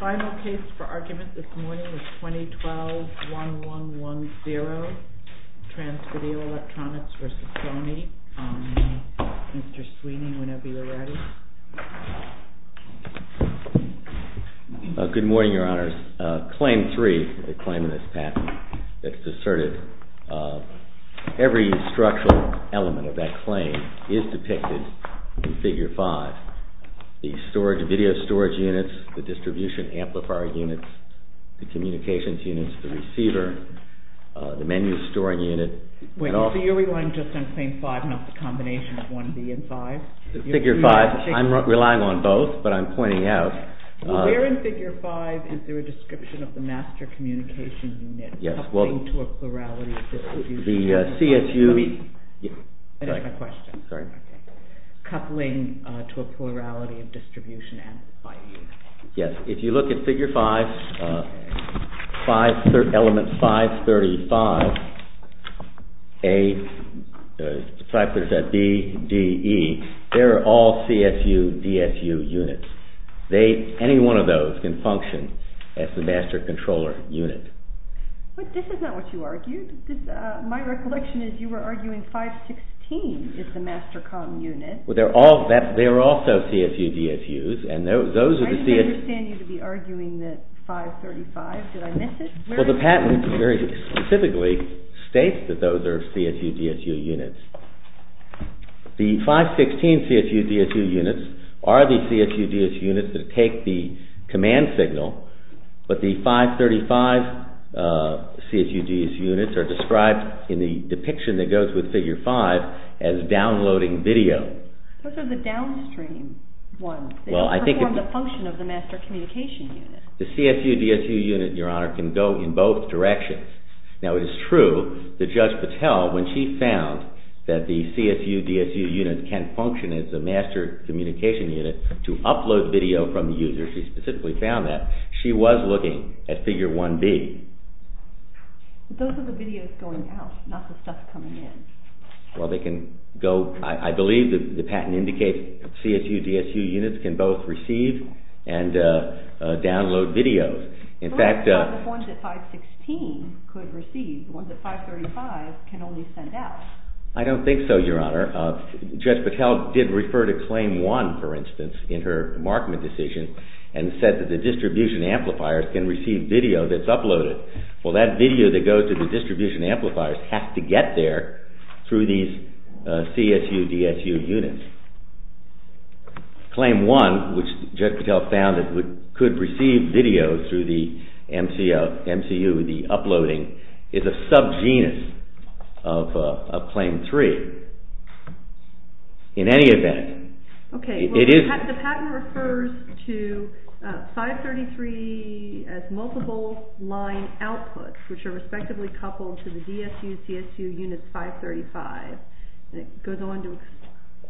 Final case for argument this morning is 2012-1110, TRANS VIDEO ELECTRONICS v. SONY. Mr. Sweeney, whenever you're ready. Good morning, Your Honors. Claim 3, the claim in this patent that's deserted, every structural element of that claim is depicted in Figure 5. The Video Storage Units, the Distribution Amplifier Units, the Communications Units, the Receiver, the Menu Storing Unit. Wait, so you're relying just on Claim 5, not the combination of 1B and 5? Figure 5, I'm relying on both, but I'm pointing out. Where in Figure 5 is there a description of the Master Communication Unit coupling to a plurality of distribution units? Coupling to a plurality of distribution amplifiers? Yes, if you look at Figure 5, Element 535, A, B, D, E, they're all CSU, DSU units. Any one of those can function as the Master Controller Unit. But this is not what you argued. My recollection is you were arguing 516 is the Master Comm Unit. Well, they're also CSU, DSUs. I didn't understand you to be arguing that 535, did I miss it? Well, the patent very specifically states that those are CSU, DSU units. The 516 CSU, DSU units are the CSU, DSU units that take the command signal, but the 535 CSU, DSU units are described in the depiction that goes with Figure 5 as downloading video. Those are the downstream ones. They don't perform the function of the Master Communication Unit. The CSU, DSU unit, Your Honor, can go in both directions. Now, it is true that Judge Patel, when she found that the CSU, DSU units can function as the Master Communication Unit to upload video from the user, she specifically found that, she was looking at Figure 1B. But those are the videos going out, not the stuff coming in. Well, they can go, I believe the patent indicates CSU, DSU units can both receive and download videos. But what about the ones that 516 could receive, the ones that 535 can only send out? I don't think so, Your Honor. Judge Patel did refer to Claim 1, for instance, in her markment decision and said that the distribution amplifiers can receive video that's uploaded. Well, that video that goes to the distribution amplifiers has to get there through these CSU, DSU units. Claim 1, which Judge Patel found that it could receive video through the MCU, the uploading, is a sub-genus of Claim 3. In any event, it is... Okay, the patent refers to 533 as multiple line outputs, which are respectively coupled to the DSU, CSU units 535. It goes on to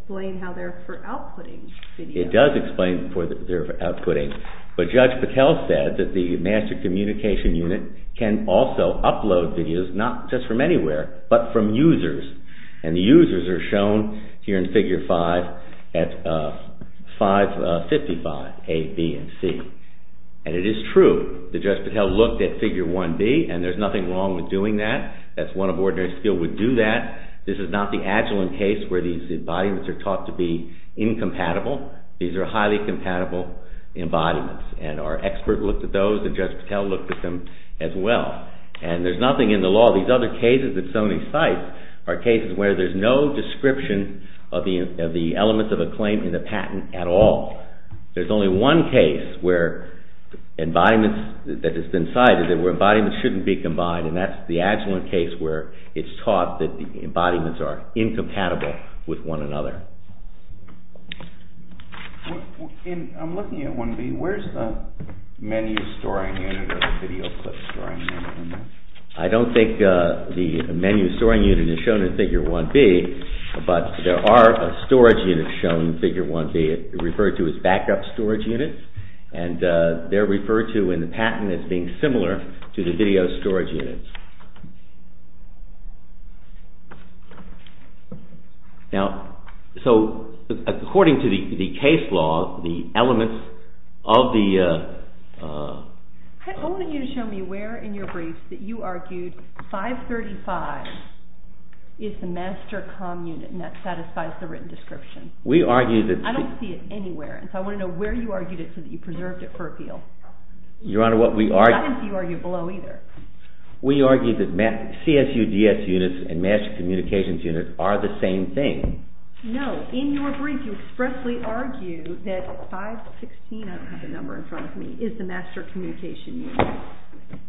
explain how they're for outputting video. It does explain how they're for outputting. But Judge Patel said that the Master Communication Unit can also upload videos, not just from anywhere, but from users. And the users are shown here in Figure 5 at 555 A, B, and C. And it is true that Judge Patel looked at Figure 1B, and there's nothing wrong with doing that. That's one of ordinary skill would do that. This is not the Agilent case where these embodiments are taught to be incompatible. These are highly compatible embodiments. And our expert looked at those, and Judge Patel looked at them as well. And there's nothing in the law. These other cases that Sony cites are cases where there's no description of the elements of a claim in the patent at all. There's only one case where embodiments... There's only one case where it's taught that the embodiments are incompatible with one another. I'm looking at 1B. Where's the menu storing unit or the video clip storing unit? I don't think the menu storing unit is shown in Figure 1B, but there are storage units shown in Figure 1B. They're referred to as backup storage units, and they're referred to in the patent as being similar to the video storage units. Now, so according to the case law, the elements of the... I want you to show me where in your briefs that you argued 535 is the master comm unit, and that satisfies the written description. We argue that... I don't see it anywhere, and so I want to know where you argued it so that you preserved it for appeal. Your Honor, what we argue... I didn't see you argue it below either. We argue that CSUDS units and master communications units are the same thing. No, in your brief you expressly argue that 516, I don't have the number in front of me, is the master communication unit.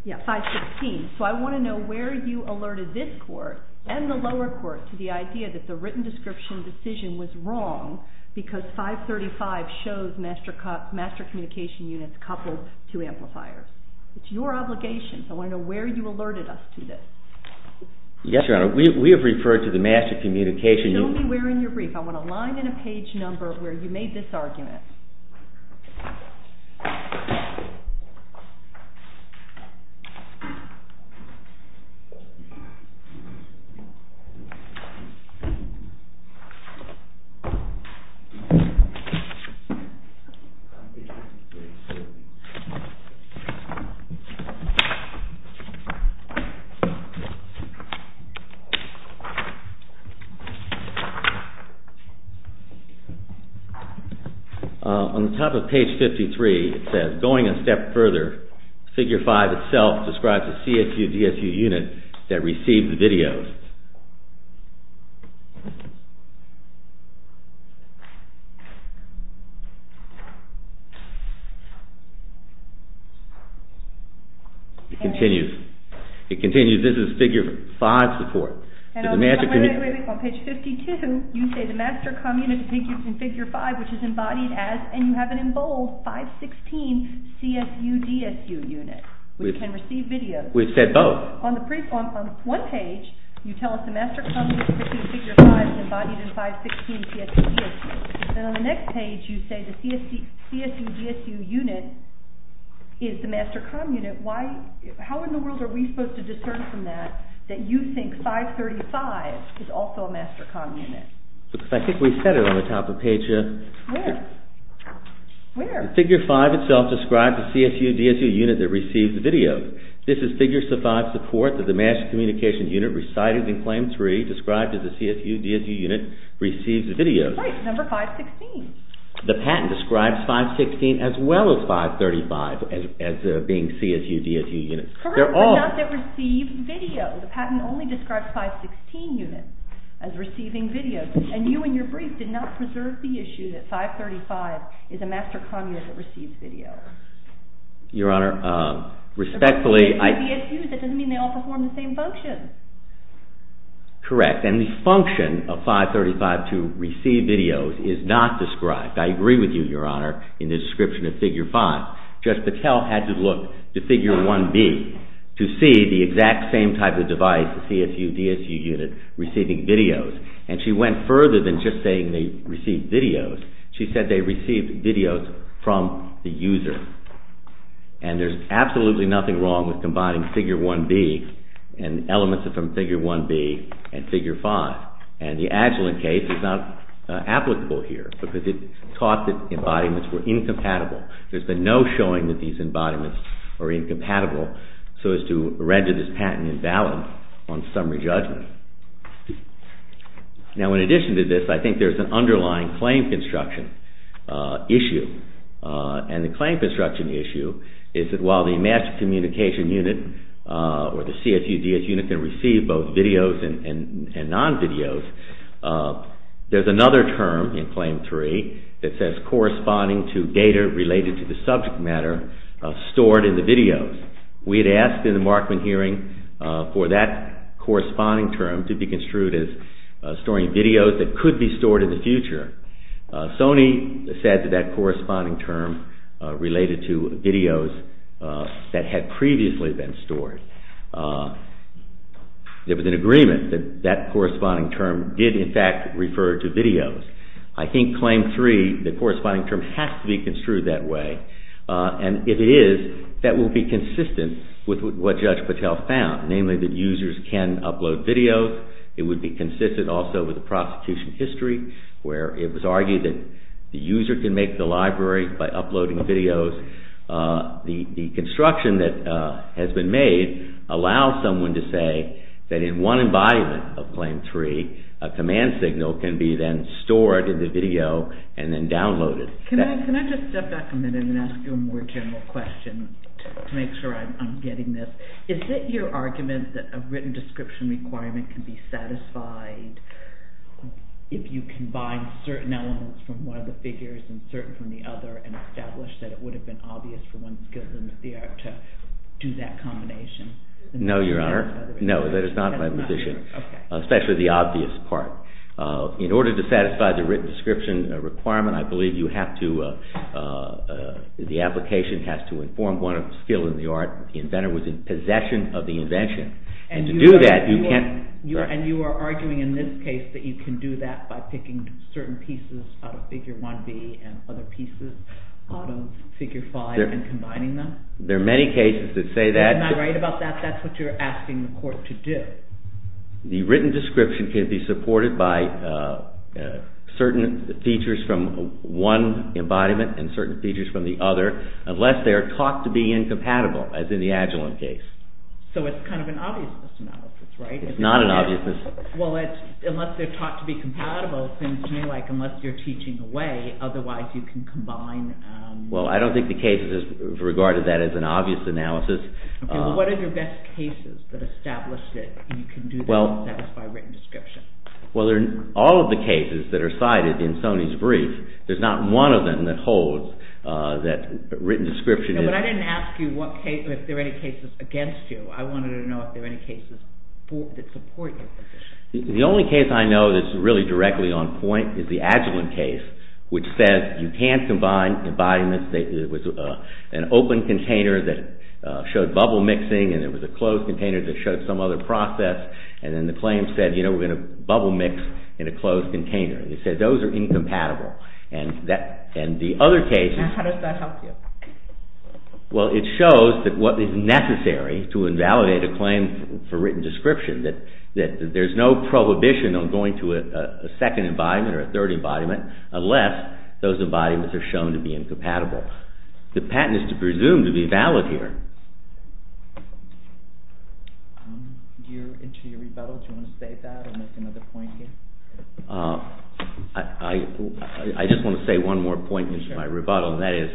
Yeah, 516, so I want to know where you alerted this court and the lower court to the idea that the written description decision was wrong because 535 shows master communication units coupled to amplifiers. It's your obligation, so I want to know where you alerted us to this. Yes, Your Honor, we have referred to the master communication... Show me where in your brief, I want a line and a page number where you made this argument. On the top of page 53, it says, going a step further, figure 5 itself describes the CSUDSU unit that received the videos. It continues, it continues, this is figure 5 support. On page 52, you say the master communication unit in figure 5, which is embodied as, and you have it in bold, 516 CSUDSU unit, which can receive videos. We've said both. On one page, you tell us the master communication unit in figure 5 is embodied in 516 CSUDSU. Then on the next page, you say the CSUDSU unit is the master communication unit. How in the world are we supposed to discern from that that you think 535 is also a master communication unit? I think we said it on the top of page... Where? Figure 5 itself describes the CSUDSU unit that receives the videos. This is figure 5 support that the master communication unit recited in claim 3 described as a CSUDSU unit receives the videos. Right, number 516. The patent describes 516 as well as 535 as being CSUDSU units. Correct, but not that receive videos. The patent only describes 516 units as receiving videos. And you in your brief did not preserve the issue that 535 is a master communication unit that receives videos. Your Honor, respectfully, I... CSUDSU, that doesn't mean they all perform the same function. Correct, and the function of 535 to receive videos is not described. I agree with you, Your Honor, in the description of figure 5. Judge Patel had to look to figure 1B to see the exact same type of device, CSUDSU unit, receiving videos. And she went further than just saying they received videos. She said they received videos from the user. And there's absolutely nothing wrong with combining figure 1B and elements from figure 1B and figure 5. And the Agilent case is not applicable here because it taught that embodiments were incompatible. There's been no showing that these embodiments are incompatible so as to render this patent invalid on summary judgment. Now, in addition to this, I think there's an underlying claim construction issue. And the claim construction issue is that while the master communication unit or the CSUDSU unit can receive both videos and non-videos, there's another term in Claim 3 that says corresponding to data related to the subject matter stored in the videos. We had asked in the Markman hearing for that corresponding term to be construed as storing videos that could be stored in the future. Sony said that that corresponding term related to videos that had previously been stored. There was an agreement that that corresponding term did in fact refer to videos. I think Claim 3, the corresponding term has to be construed that way. And if it is, that will be consistent with what Judge Patel found, namely that users can upload videos. It would be consistent also with the prosecution history where it was argued that the user can make the library by uploading videos. The construction that has been made allows someone to say that in one embodiment of Claim 3, a command signal can be then stored in the video and then downloaded. Can I just step back a minute and ask you a more general question to make sure I'm getting this? Is it your argument that a written description requirement can be satisfied if you combine certain elements from one of the figures and certain from the other and establish that it would have been obvious for one skill in the theater to do that combination? No, Your Honor. No, that is not my position, especially the obvious part. In order to satisfy the written description requirement, I believe you have to, the application has to inform one skill in the art that the inventor was in possession of the invention. And to do that, you can't. And you are arguing in this case that you can do that by picking certain pieces out of Figure 1B and other pieces out of Figure 5 and combining them? There are many cases that say that. Am I right about that? That's what you're asking the court to do. The written description can be supported by certain features from one embodiment and certain features from the other, unless they are taught to be incompatible, as in the Agilent case. So it's kind of an obviousness analysis, right? It's not an obviousness. Well, unless they're taught to be compatible, it seems to me like unless you're teaching away, otherwise you can combine... Well, I don't think the case has regarded that as an obvious analysis. What are your best cases that establish that you can do that to satisfy written description? Well, all of the cases that are cited in Sony's brief, there's not one of them that holds that written description... But I didn't ask you if there are any cases against you. I wanted to know if there are any cases that support your position. The only case I know that's really directly on point is the Agilent case, which says you can't combine embodiments. It was an open container that showed bubble mixing, and it was a closed container that showed some other process, and then the claim said, you know, we're going to bubble mix in a closed container. It said those are incompatible. And the other case is... And how does that help you? Well, it shows that what is necessary to invalidate a claim for written description, that there's no prohibition on going to a second embodiment or a third embodiment unless those embodiments are shown to be incompatible. The patent is to presume to be valid here. Do you want to say that or make another point here? I just want to say one more point in my rebuttal, and that is...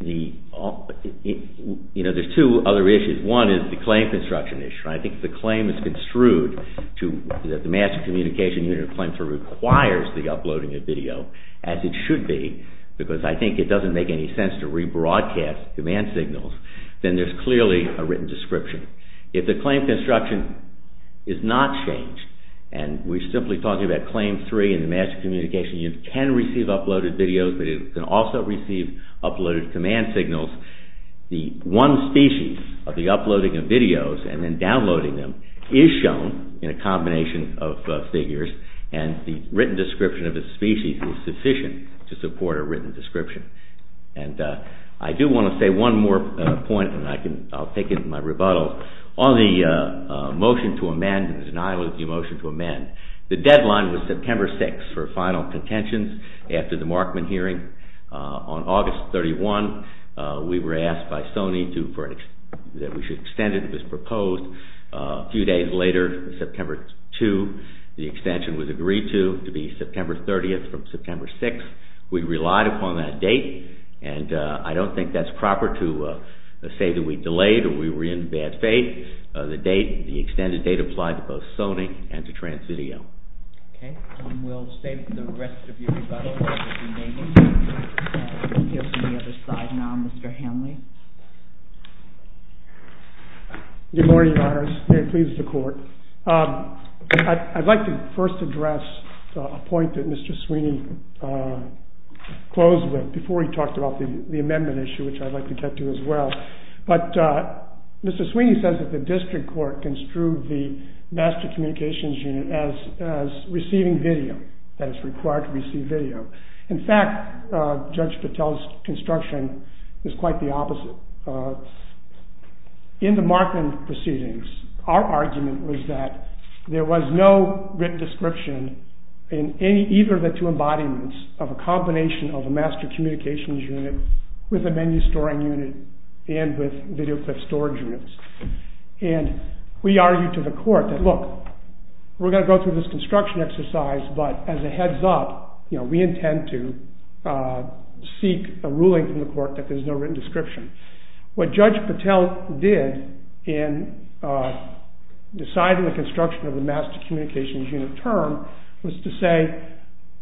You know, there's two other issues. One is the claim construction issue. I think the claim is construed to... that the Master Communication Unit of Claims requires the uploading of video, as it should be, because I think it doesn't make any sense to rebroadcast command signals, then there's clearly a written description. If the claim construction is not changed, and we're simply talking about Claim 3, and the Master Communication Unit can receive uploaded videos, but it can also receive uploaded command signals, the one species of the uploading of videos and then downloading them is shown in a combination of figures, and the written description of the species is sufficient to support a written description. And I do want to say one more point, and I'll take it in my rebuttal, on the motion to amend, the denial of the motion to amend. The deadline was September 6 for final contentions after the Markman hearing. On August 31, we were asked by Sony that we should extend it. It was proposed a few days later, September 2. The extension was agreed to, to be September 30 from September 6. We relied upon that date, and I don't think that's proper to say that we delayed or we were in bad faith. The extended date applied to both Sony and to Transvideo. Okay, we'll save the rest of your rebuttal. We'll hear from the other side now. Mr. Hanley. Good morning, Your Honors. May it please the Court. I'd like to first address a point that Mr. Sweeney closed with before he talked about the amendment issue, which I'd like to get to as well. But Mr. Sweeney says that the district court construed the Master Communications Unit as receiving video, as required to receive video. In fact, Judge Patel's construction is quite the opposite. In the Markman proceedings, our argument was that there was no written description in either of the two embodiments of a combination of a Master Communications Unit with a Menu Storing Unit and with Videoclip Storage Units. And we argued to the Court that, look, we're going to go through this construction exercise, but as a heads up, we intend to seek a ruling from the Court that there's no written description. What Judge Patel did in deciding the construction of the Master Communications Unit term was to say,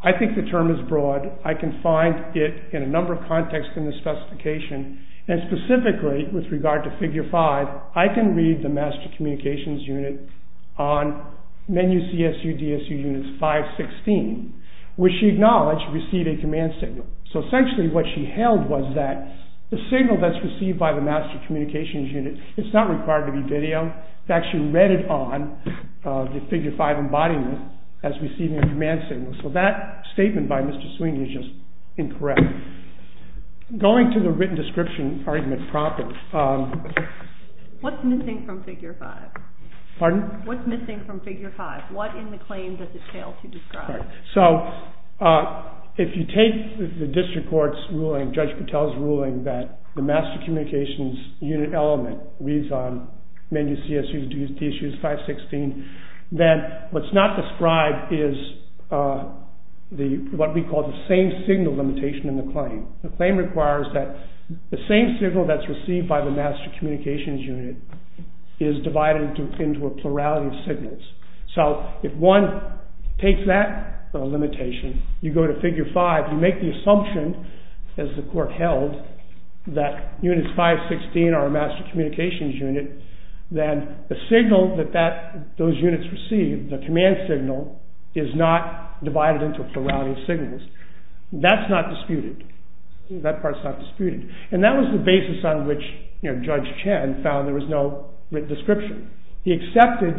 I think the term is broad. I can find it in a number of contexts in the specification, and specifically with regard to Figure 5, I can read the Master Communications Unit on Menu CSU DSU Units 516, which she acknowledged received a command signal. So essentially what she held was that the signal that's received by the Master Communications Unit, it's not required to be video. In fact, she read it on the Figure 5 embodiment as receiving a command signal. So that statement by Mr. Sweeney is just incorrect. Going to the written description argument properly. What's missing from Figure 5? Pardon? What's missing from Figure 5? What in the claim does it fail to describe? So if you take the District Court's ruling, Judge Patel's ruling, that the Master Communications Unit element reads on Menu CSU DSU 516, then what's not described is what we call the same signal limitation in the claim. The claim requires that the same signal that's received by the Master Communications Unit is divided into a plurality of signals. So if one takes that limitation, you go to Figure 5, you make the assumption, as the court held, that Units 516 are a Master Communications Unit, then the signal that those units receive, the command signal, is not divided into a plurality of signals. That's not disputed. That part's not disputed. And that was the basis on which Judge Chen found there was no written description. He accepted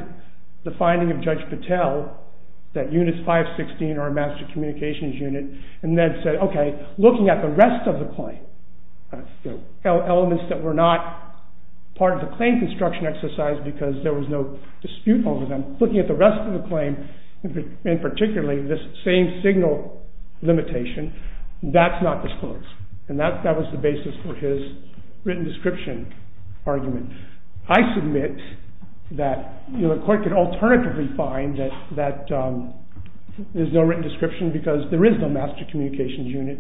the finding of Judge Patel that Units 516 are a Master Communications Unit, and then said, okay, looking at the rest of the claim, the elements that were not part of the claim construction exercise because there was no dispute over them, looking at the rest of the claim, and particularly this same signal limitation, that's not disclosed. And that was the basis for his written description argument. I submit that the court could alternatively find that there's no written description because there is no Master Communications Unit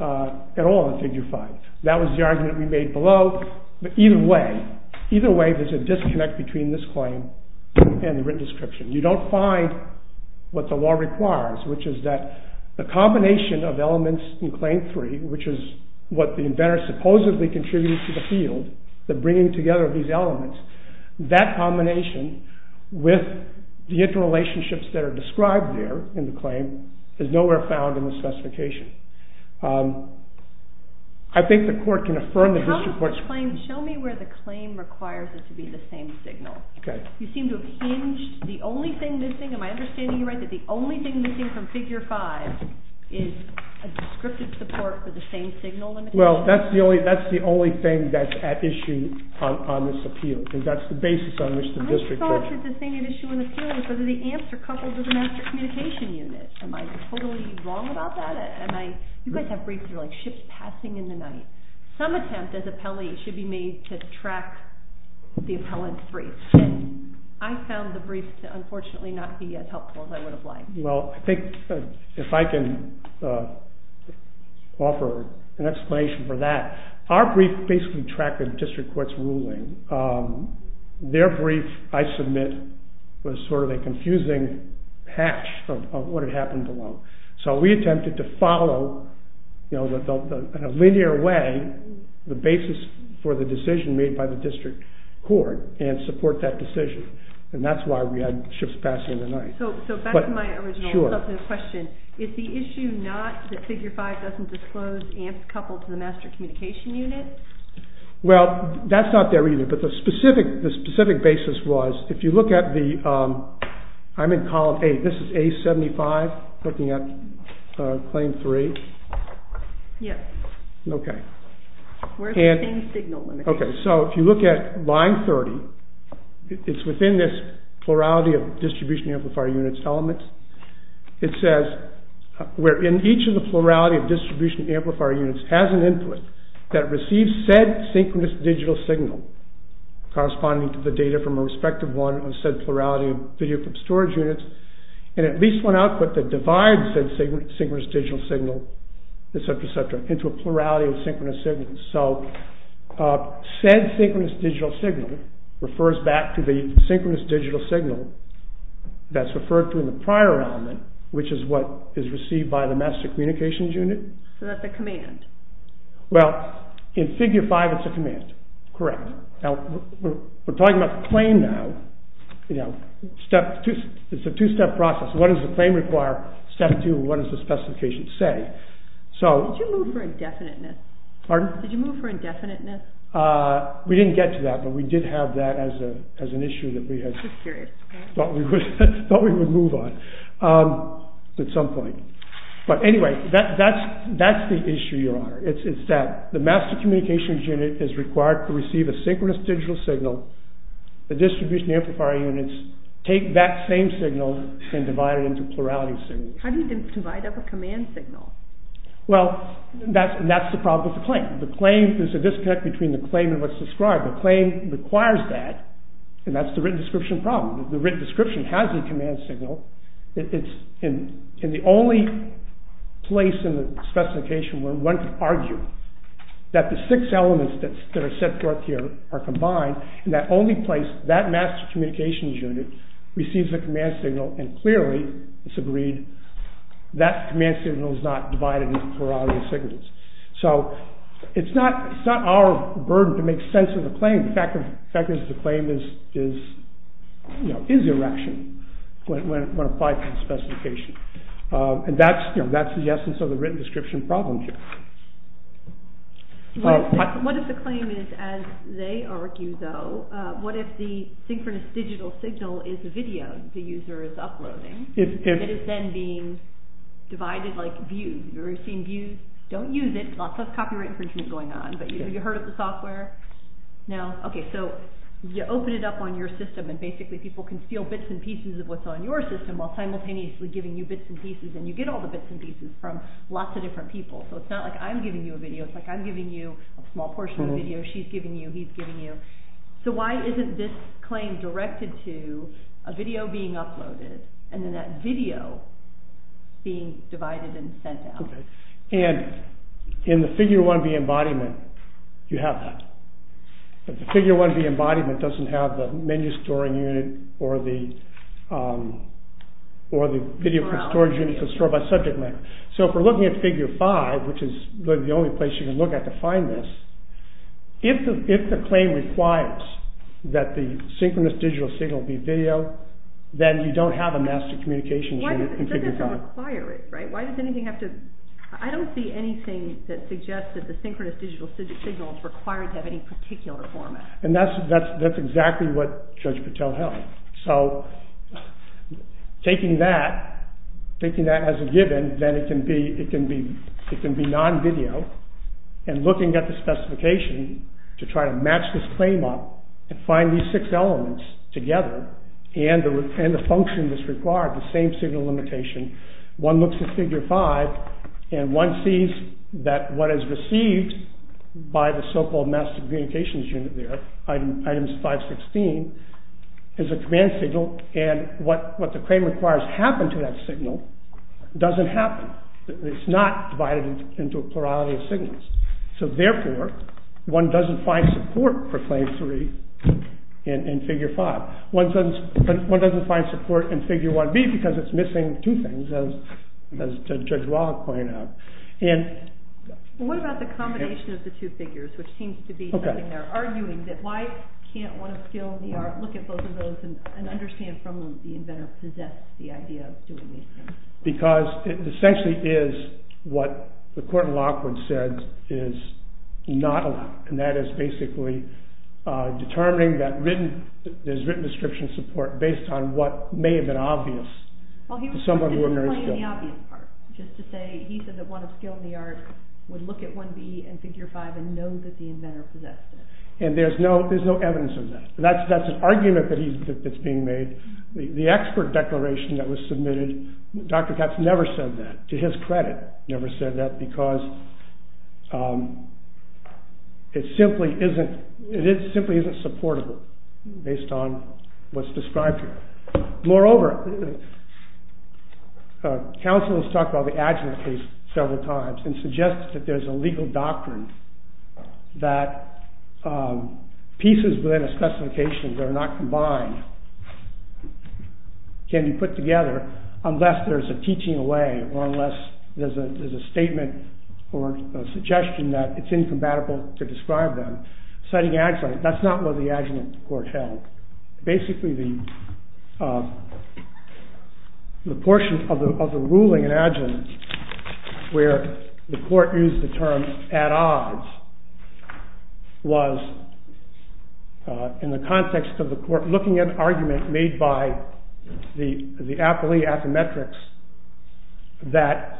at all in Figure 5. That was the argument we made below. But either way, there's a disconnect between this claim and the written description. You don't find what the law requires, which is that the combination of elements in Claim 3, which is what the inventor supposedly contributed to the field, the bringing together of these elements, that combination with the interrelationships that are described there in the claim is nowhere found in the specification. I think the court can affirm that this report... Show me where the claim requires it to be the same signal. You seem to have hinged the only thing missing. Am I understanding you right that the only thing missing from Figure 5 is a descriptive support for the same signal limitation? Well, that's the only thing that's at issue on this appeal. That's the basis on which the district... I thought that the thing at issue on the appeal was whether the amps are coupled to the Master Communication Unit. Am I totally wrong about that? You guys have briefs that are like ships passing in the night. Some attempt as appellees should be made to track the appellant's briefs. I found the briefs to unfortunately not be as helpful as I would have liked. Well, I think if I can offer an explanation for that. Our brief basically tracked the district court's ruling. Their brief, I submit, was sort of a confusing patch of what had happened below. So we attempted to follow in a linear way the basis for the decision made by the district court and support that decision, and that's why we had ships passing in the night. So back to my original substantive question. Is the issue not that Figure 5 doesn't disclose amps coupled to the Master Communication Unit? Well, that's not there either, but the specific basis was if you look at the... I'm in Column A. This is A75, looking at Claim 3. Yes. Okay. Where's the same signal limitation? Okay, so if you look at Line 30, it's within this plurality of distribution amplifier units elements. It says, where in each of the plurality of distribution amplifier units has an input that receives said synchronous digital signal corresponding to the data from a respective one of said plurality of video clip storage units and at least one output that divides said synchronous digital signal, et cetera, et cetera, into a plurality of synchronous signals. So said synchronous digital signal refers back to the synchronous digital signal that's referred to in the prior element, which is what is received by the Master Communications Unit. So that's a command. Well, in Figure 5, it's a command. Correct. Now, we're talking about the claim now. You know, it's a two-step process. What does the claim require? Step 2, what does the specification say? Did you look for indefiniteness? Pardon? Did you look for indefiniteness? We didn't get to that, but we did have that as an issue that we had thought we would move on at some point. But anyway, that's the issue, Your Honor. It's that the Master Communications Unit is required to receive a synchronous digital signal. The distribution amplifier units take that same signal and divide it into plurality signals. How do you divide up a command signal? Well, that's the problem with the claim. There's a disconnect between the claim and what's described. The claim requires that, and that's the written description problem. The written description has a command signal. It's in the only place in the specification where one could argue that the six elements that are set forth here are combined. In that only place, that Master Communications Unit receives a command signal, and clearly it's agreed that that command signal is not divided into plurality signals. So it's not our burden to make sense of the claim. The fact of the fact is the claim is erection when applied to the specification. And that's the essence of the written description problem here. What if the claim is, as they argue, though, what if the synchronous digital signal is a video the user is uploading? It is then being divided like views. Have you ever seen views? Don't use it. Lots of copyright infringement going on. But have you heard of the software? No? Okay, so you open it up on your system, and basically people can steal bits and pieces of what's on your system while simultaneously giving you bits and pieces. And you get all the bits and pieces from lots of different people. So it's not like I'm giving you a video. It's like I'm giving you a small portion of the video. She's giving you. He's giving you. So why isn't this claim directed to a video being uploaded and then that video being divided and sent out? And in the Figure 1B embodiment, you have that. But the Figure 1B embodiment doesn't have the menu storing unit or the video storage unit to store by subject matter. So if we're looking at Figure 5, which is the only place you can look at to find this, if the claim requires that the synchronous digital signal be video, then you don't have a master communications unit in Figure 5. Why does it require it? I don't see anything that suggests that the synchronous digital signal is required to have any particular format. And that's exactly what Judge Patel held. So taking that as a given, then it can be non-video. And looking at the specification to try to match this claim up and find these six elements together and the function that's required, the same signal limitation, one looks at Figure 5 and one sees that what is received by the so-called master communications unit there, item 516, is a command signal and what the claim requires to happen to that signal doesn't happen. It's not divided into a plurality of signals. So therefore, one doesn't find support for Claim 3 in Figure 5. One doesn't find support in Figure 1B because it's missing two things, as Judge Wallach pointed out. What about the combination of the two figures, which seems to be something they're arguing, that why can't one still look at both of those and understand from them that the inventor possessed the idea of doing these things? Because it essentially is what the court in Lockwood said is not allowed, and that is basically determining that there's written description support based on what may have been obvious to someone who emerged there. Well, he wasn't explaining the obvious part, just to say he said that one of skill in the art would look at 1B and Figure 5 and know that the inventor possessed it. And there's no evidence of that. That's an argument that's being made. The expert declaration that was submitted, Dr. Katz never said that, to his credit, never said that because it simply isn't supportable based on what's described here. Moreover, counsel has talked about the Agilent case several times and suggested that there's a legal doctrine that pieces within a specification that are not combined can be put together unless there's a teaching away or unless there's a statement or a suggestion that it's incompatible to describe them. That's not what the Agilent court held. Basically, the portion of the ruling in Agilent where the court used the term at odds was in the context of the court looking at argument made by the Appley Affymetrix that,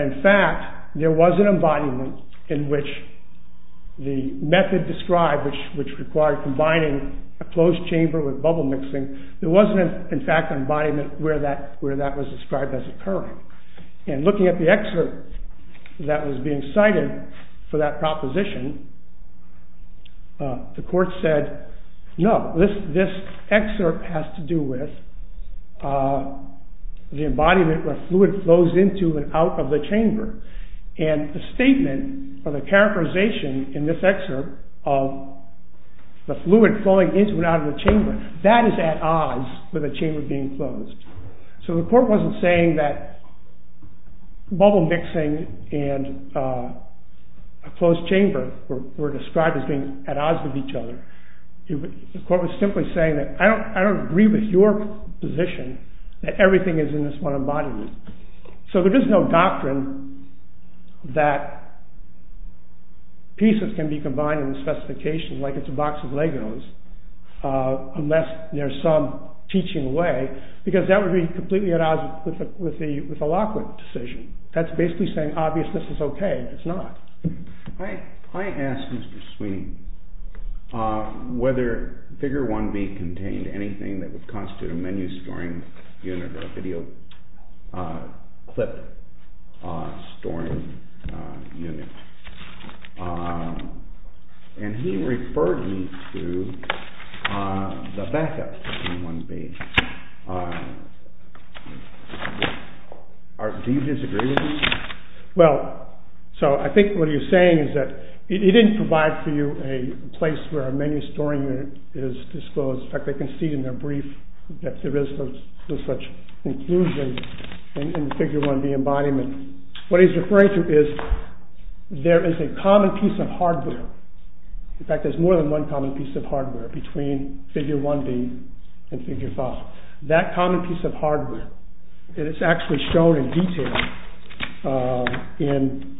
in fact, there was an embodiment in which the method described, which required combining a closed chamber with bubble mixing, there was, in fact, an embodiment where that was described as occurring. And looking at the excerpt that was being cited for that proposition, the court said, no, this excerpt has to do with the embodiment where fluid flows into and out of the chamber. And the statement or the characterization in this excerpt of the fluid flowing into and out of the chamber, that is at odds with a chamber being closed. So the court wasn't saying that bubble mixing and a closed chamber were described as being at odds with each other. The court was simply saying that I don't agree with your position that everything is in this one embodiment. So there is no doctrine that pieces can be combined in the specifications like it's a box of Legos unless there's some teaching way because that would be completely at odds with the Lockwood decision. That's basically saying obviousness is okay, it's not. I asked Mr. Sweeney whether figure 1B contained anything that would constitute a menu storing unit or a video clip storing unit. And he referred me to the backup of figure 1B. Do you disagree with this? Well, so I think what he's saying is that he didn't provide for you a place where a menu storing unit is disclosed. In fact, they can see in their brief that there is no such inclusion in the figure 1B embodiment. What he's referring to is there is a common piece of hardware. In fact, there's more than one common piece of hardware between figure 1B and figure 5. That common piece of hardware is actually shown in detail in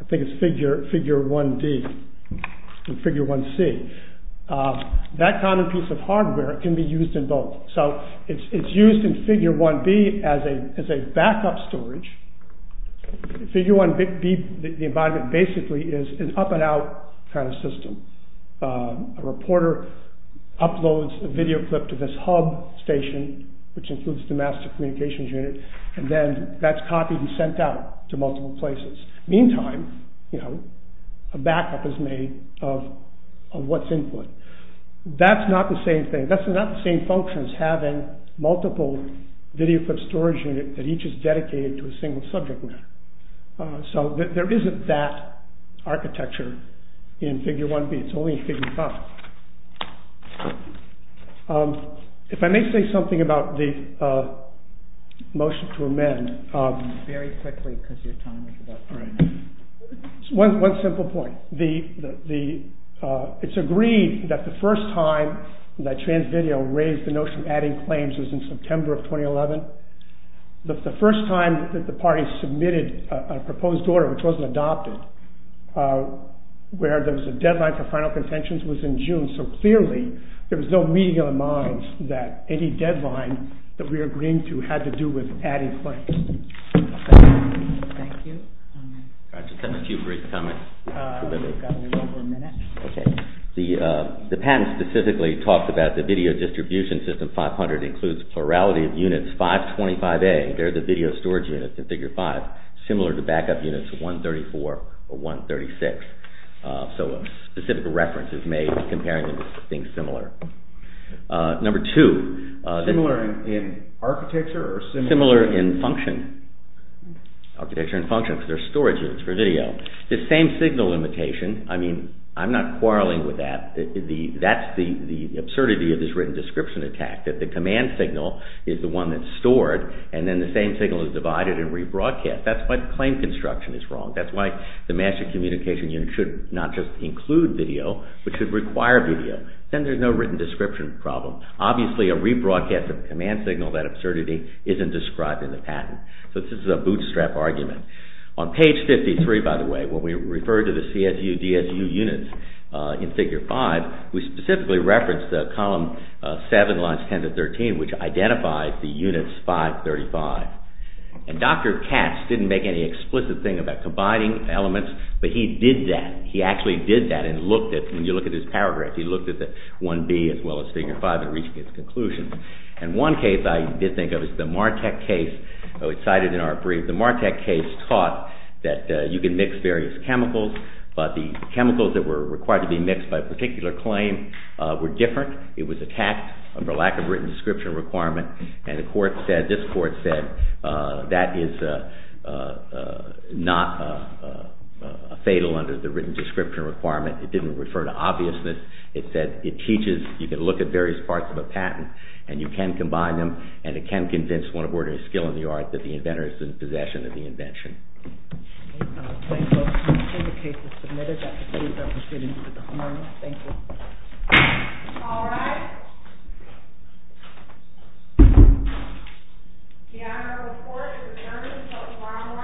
I think it's figure 1D and figure 1C. That common piece of hardware can be used in both. So it's used in figure 1B as a backup storage. Figure 1B embodiment basically is an up and out kind of system. A reporter uploads a video clip to this hub station which includes the master communications unit and then that's copied and sent out to multiple places. Meantime, a backup is made of what's input. That's not the same thing. That's not the same function as having multiple video clip storage units that each is dedicated to a single subject matter. So there isn't that architecture in figure 1B. It's only in figure 5. If I may say something about the motion to amend. Very quickly because your time is about to run out. One simple point. It's agreed that the first time that Transvideo raised the notion of adding claims was in September of 2011. The first time that the party submitted a proposed order which wasn't adopted where there was a deadline for final contentions was in June. So clearly there was no meeting in the minds that any deadline that we were agreeing to had to do with adding claims. Thank you. I just have a few brief comments. We've got a little over a minute. The patent specifically talks about the video distribution system 500 includes plurality of units 525A. They're the video storage units in figure 5 similar to backup units 134 or 136. So a specific reference is made comparing them to things similar. Number two. Similar in architecture or similar in function? Architecture and function because they're storage units for video. The same signal limitation. I mean I'm not quarreling with that. That's the absurdity of this written description attack that the command signal is the one that's stored and then the same signal is divided and rebroadcast. That's what claim construction is wrong. That's why the master communication unit should not just include video but should require video. Then there's no written description problem. Obviously a rebroadcast of command signal, that absurdity, isn't described in the patent. So this is a bootstrap argument. On page 53, by the way, when we refer to the CSU DSU units in figure 5, we specifically reference the column 7, lines 10 to 13, which identifies the units 535. And Dr. Katz didn't make any explicit thing about combining elements but he did that. He actually did that and looked at it. When you look at his paragraph, he looked at 1B as well as figure 5 and reached his conclusion. And one case I did think of is the Martek case. It's cited in our brief. The Martek case taught that you can mix various chemicals but the chemicals that were required to be mixed by a particular claim were different. It was attacked for lack of written description requirement and the court said, this court said, that is not fatal under the written description requirement. It didn't refer to obviousness. It said it teaches you can look at various parts of a patent and you can combine them and it can convince one aboard a skill in the art that the inventor is in possession of the invention. Thank you. The case is submitted. Dr. Katz, I appreciate it. Thank you. All right. The honor report is adjourned until tomorrow morning at 10 a.m.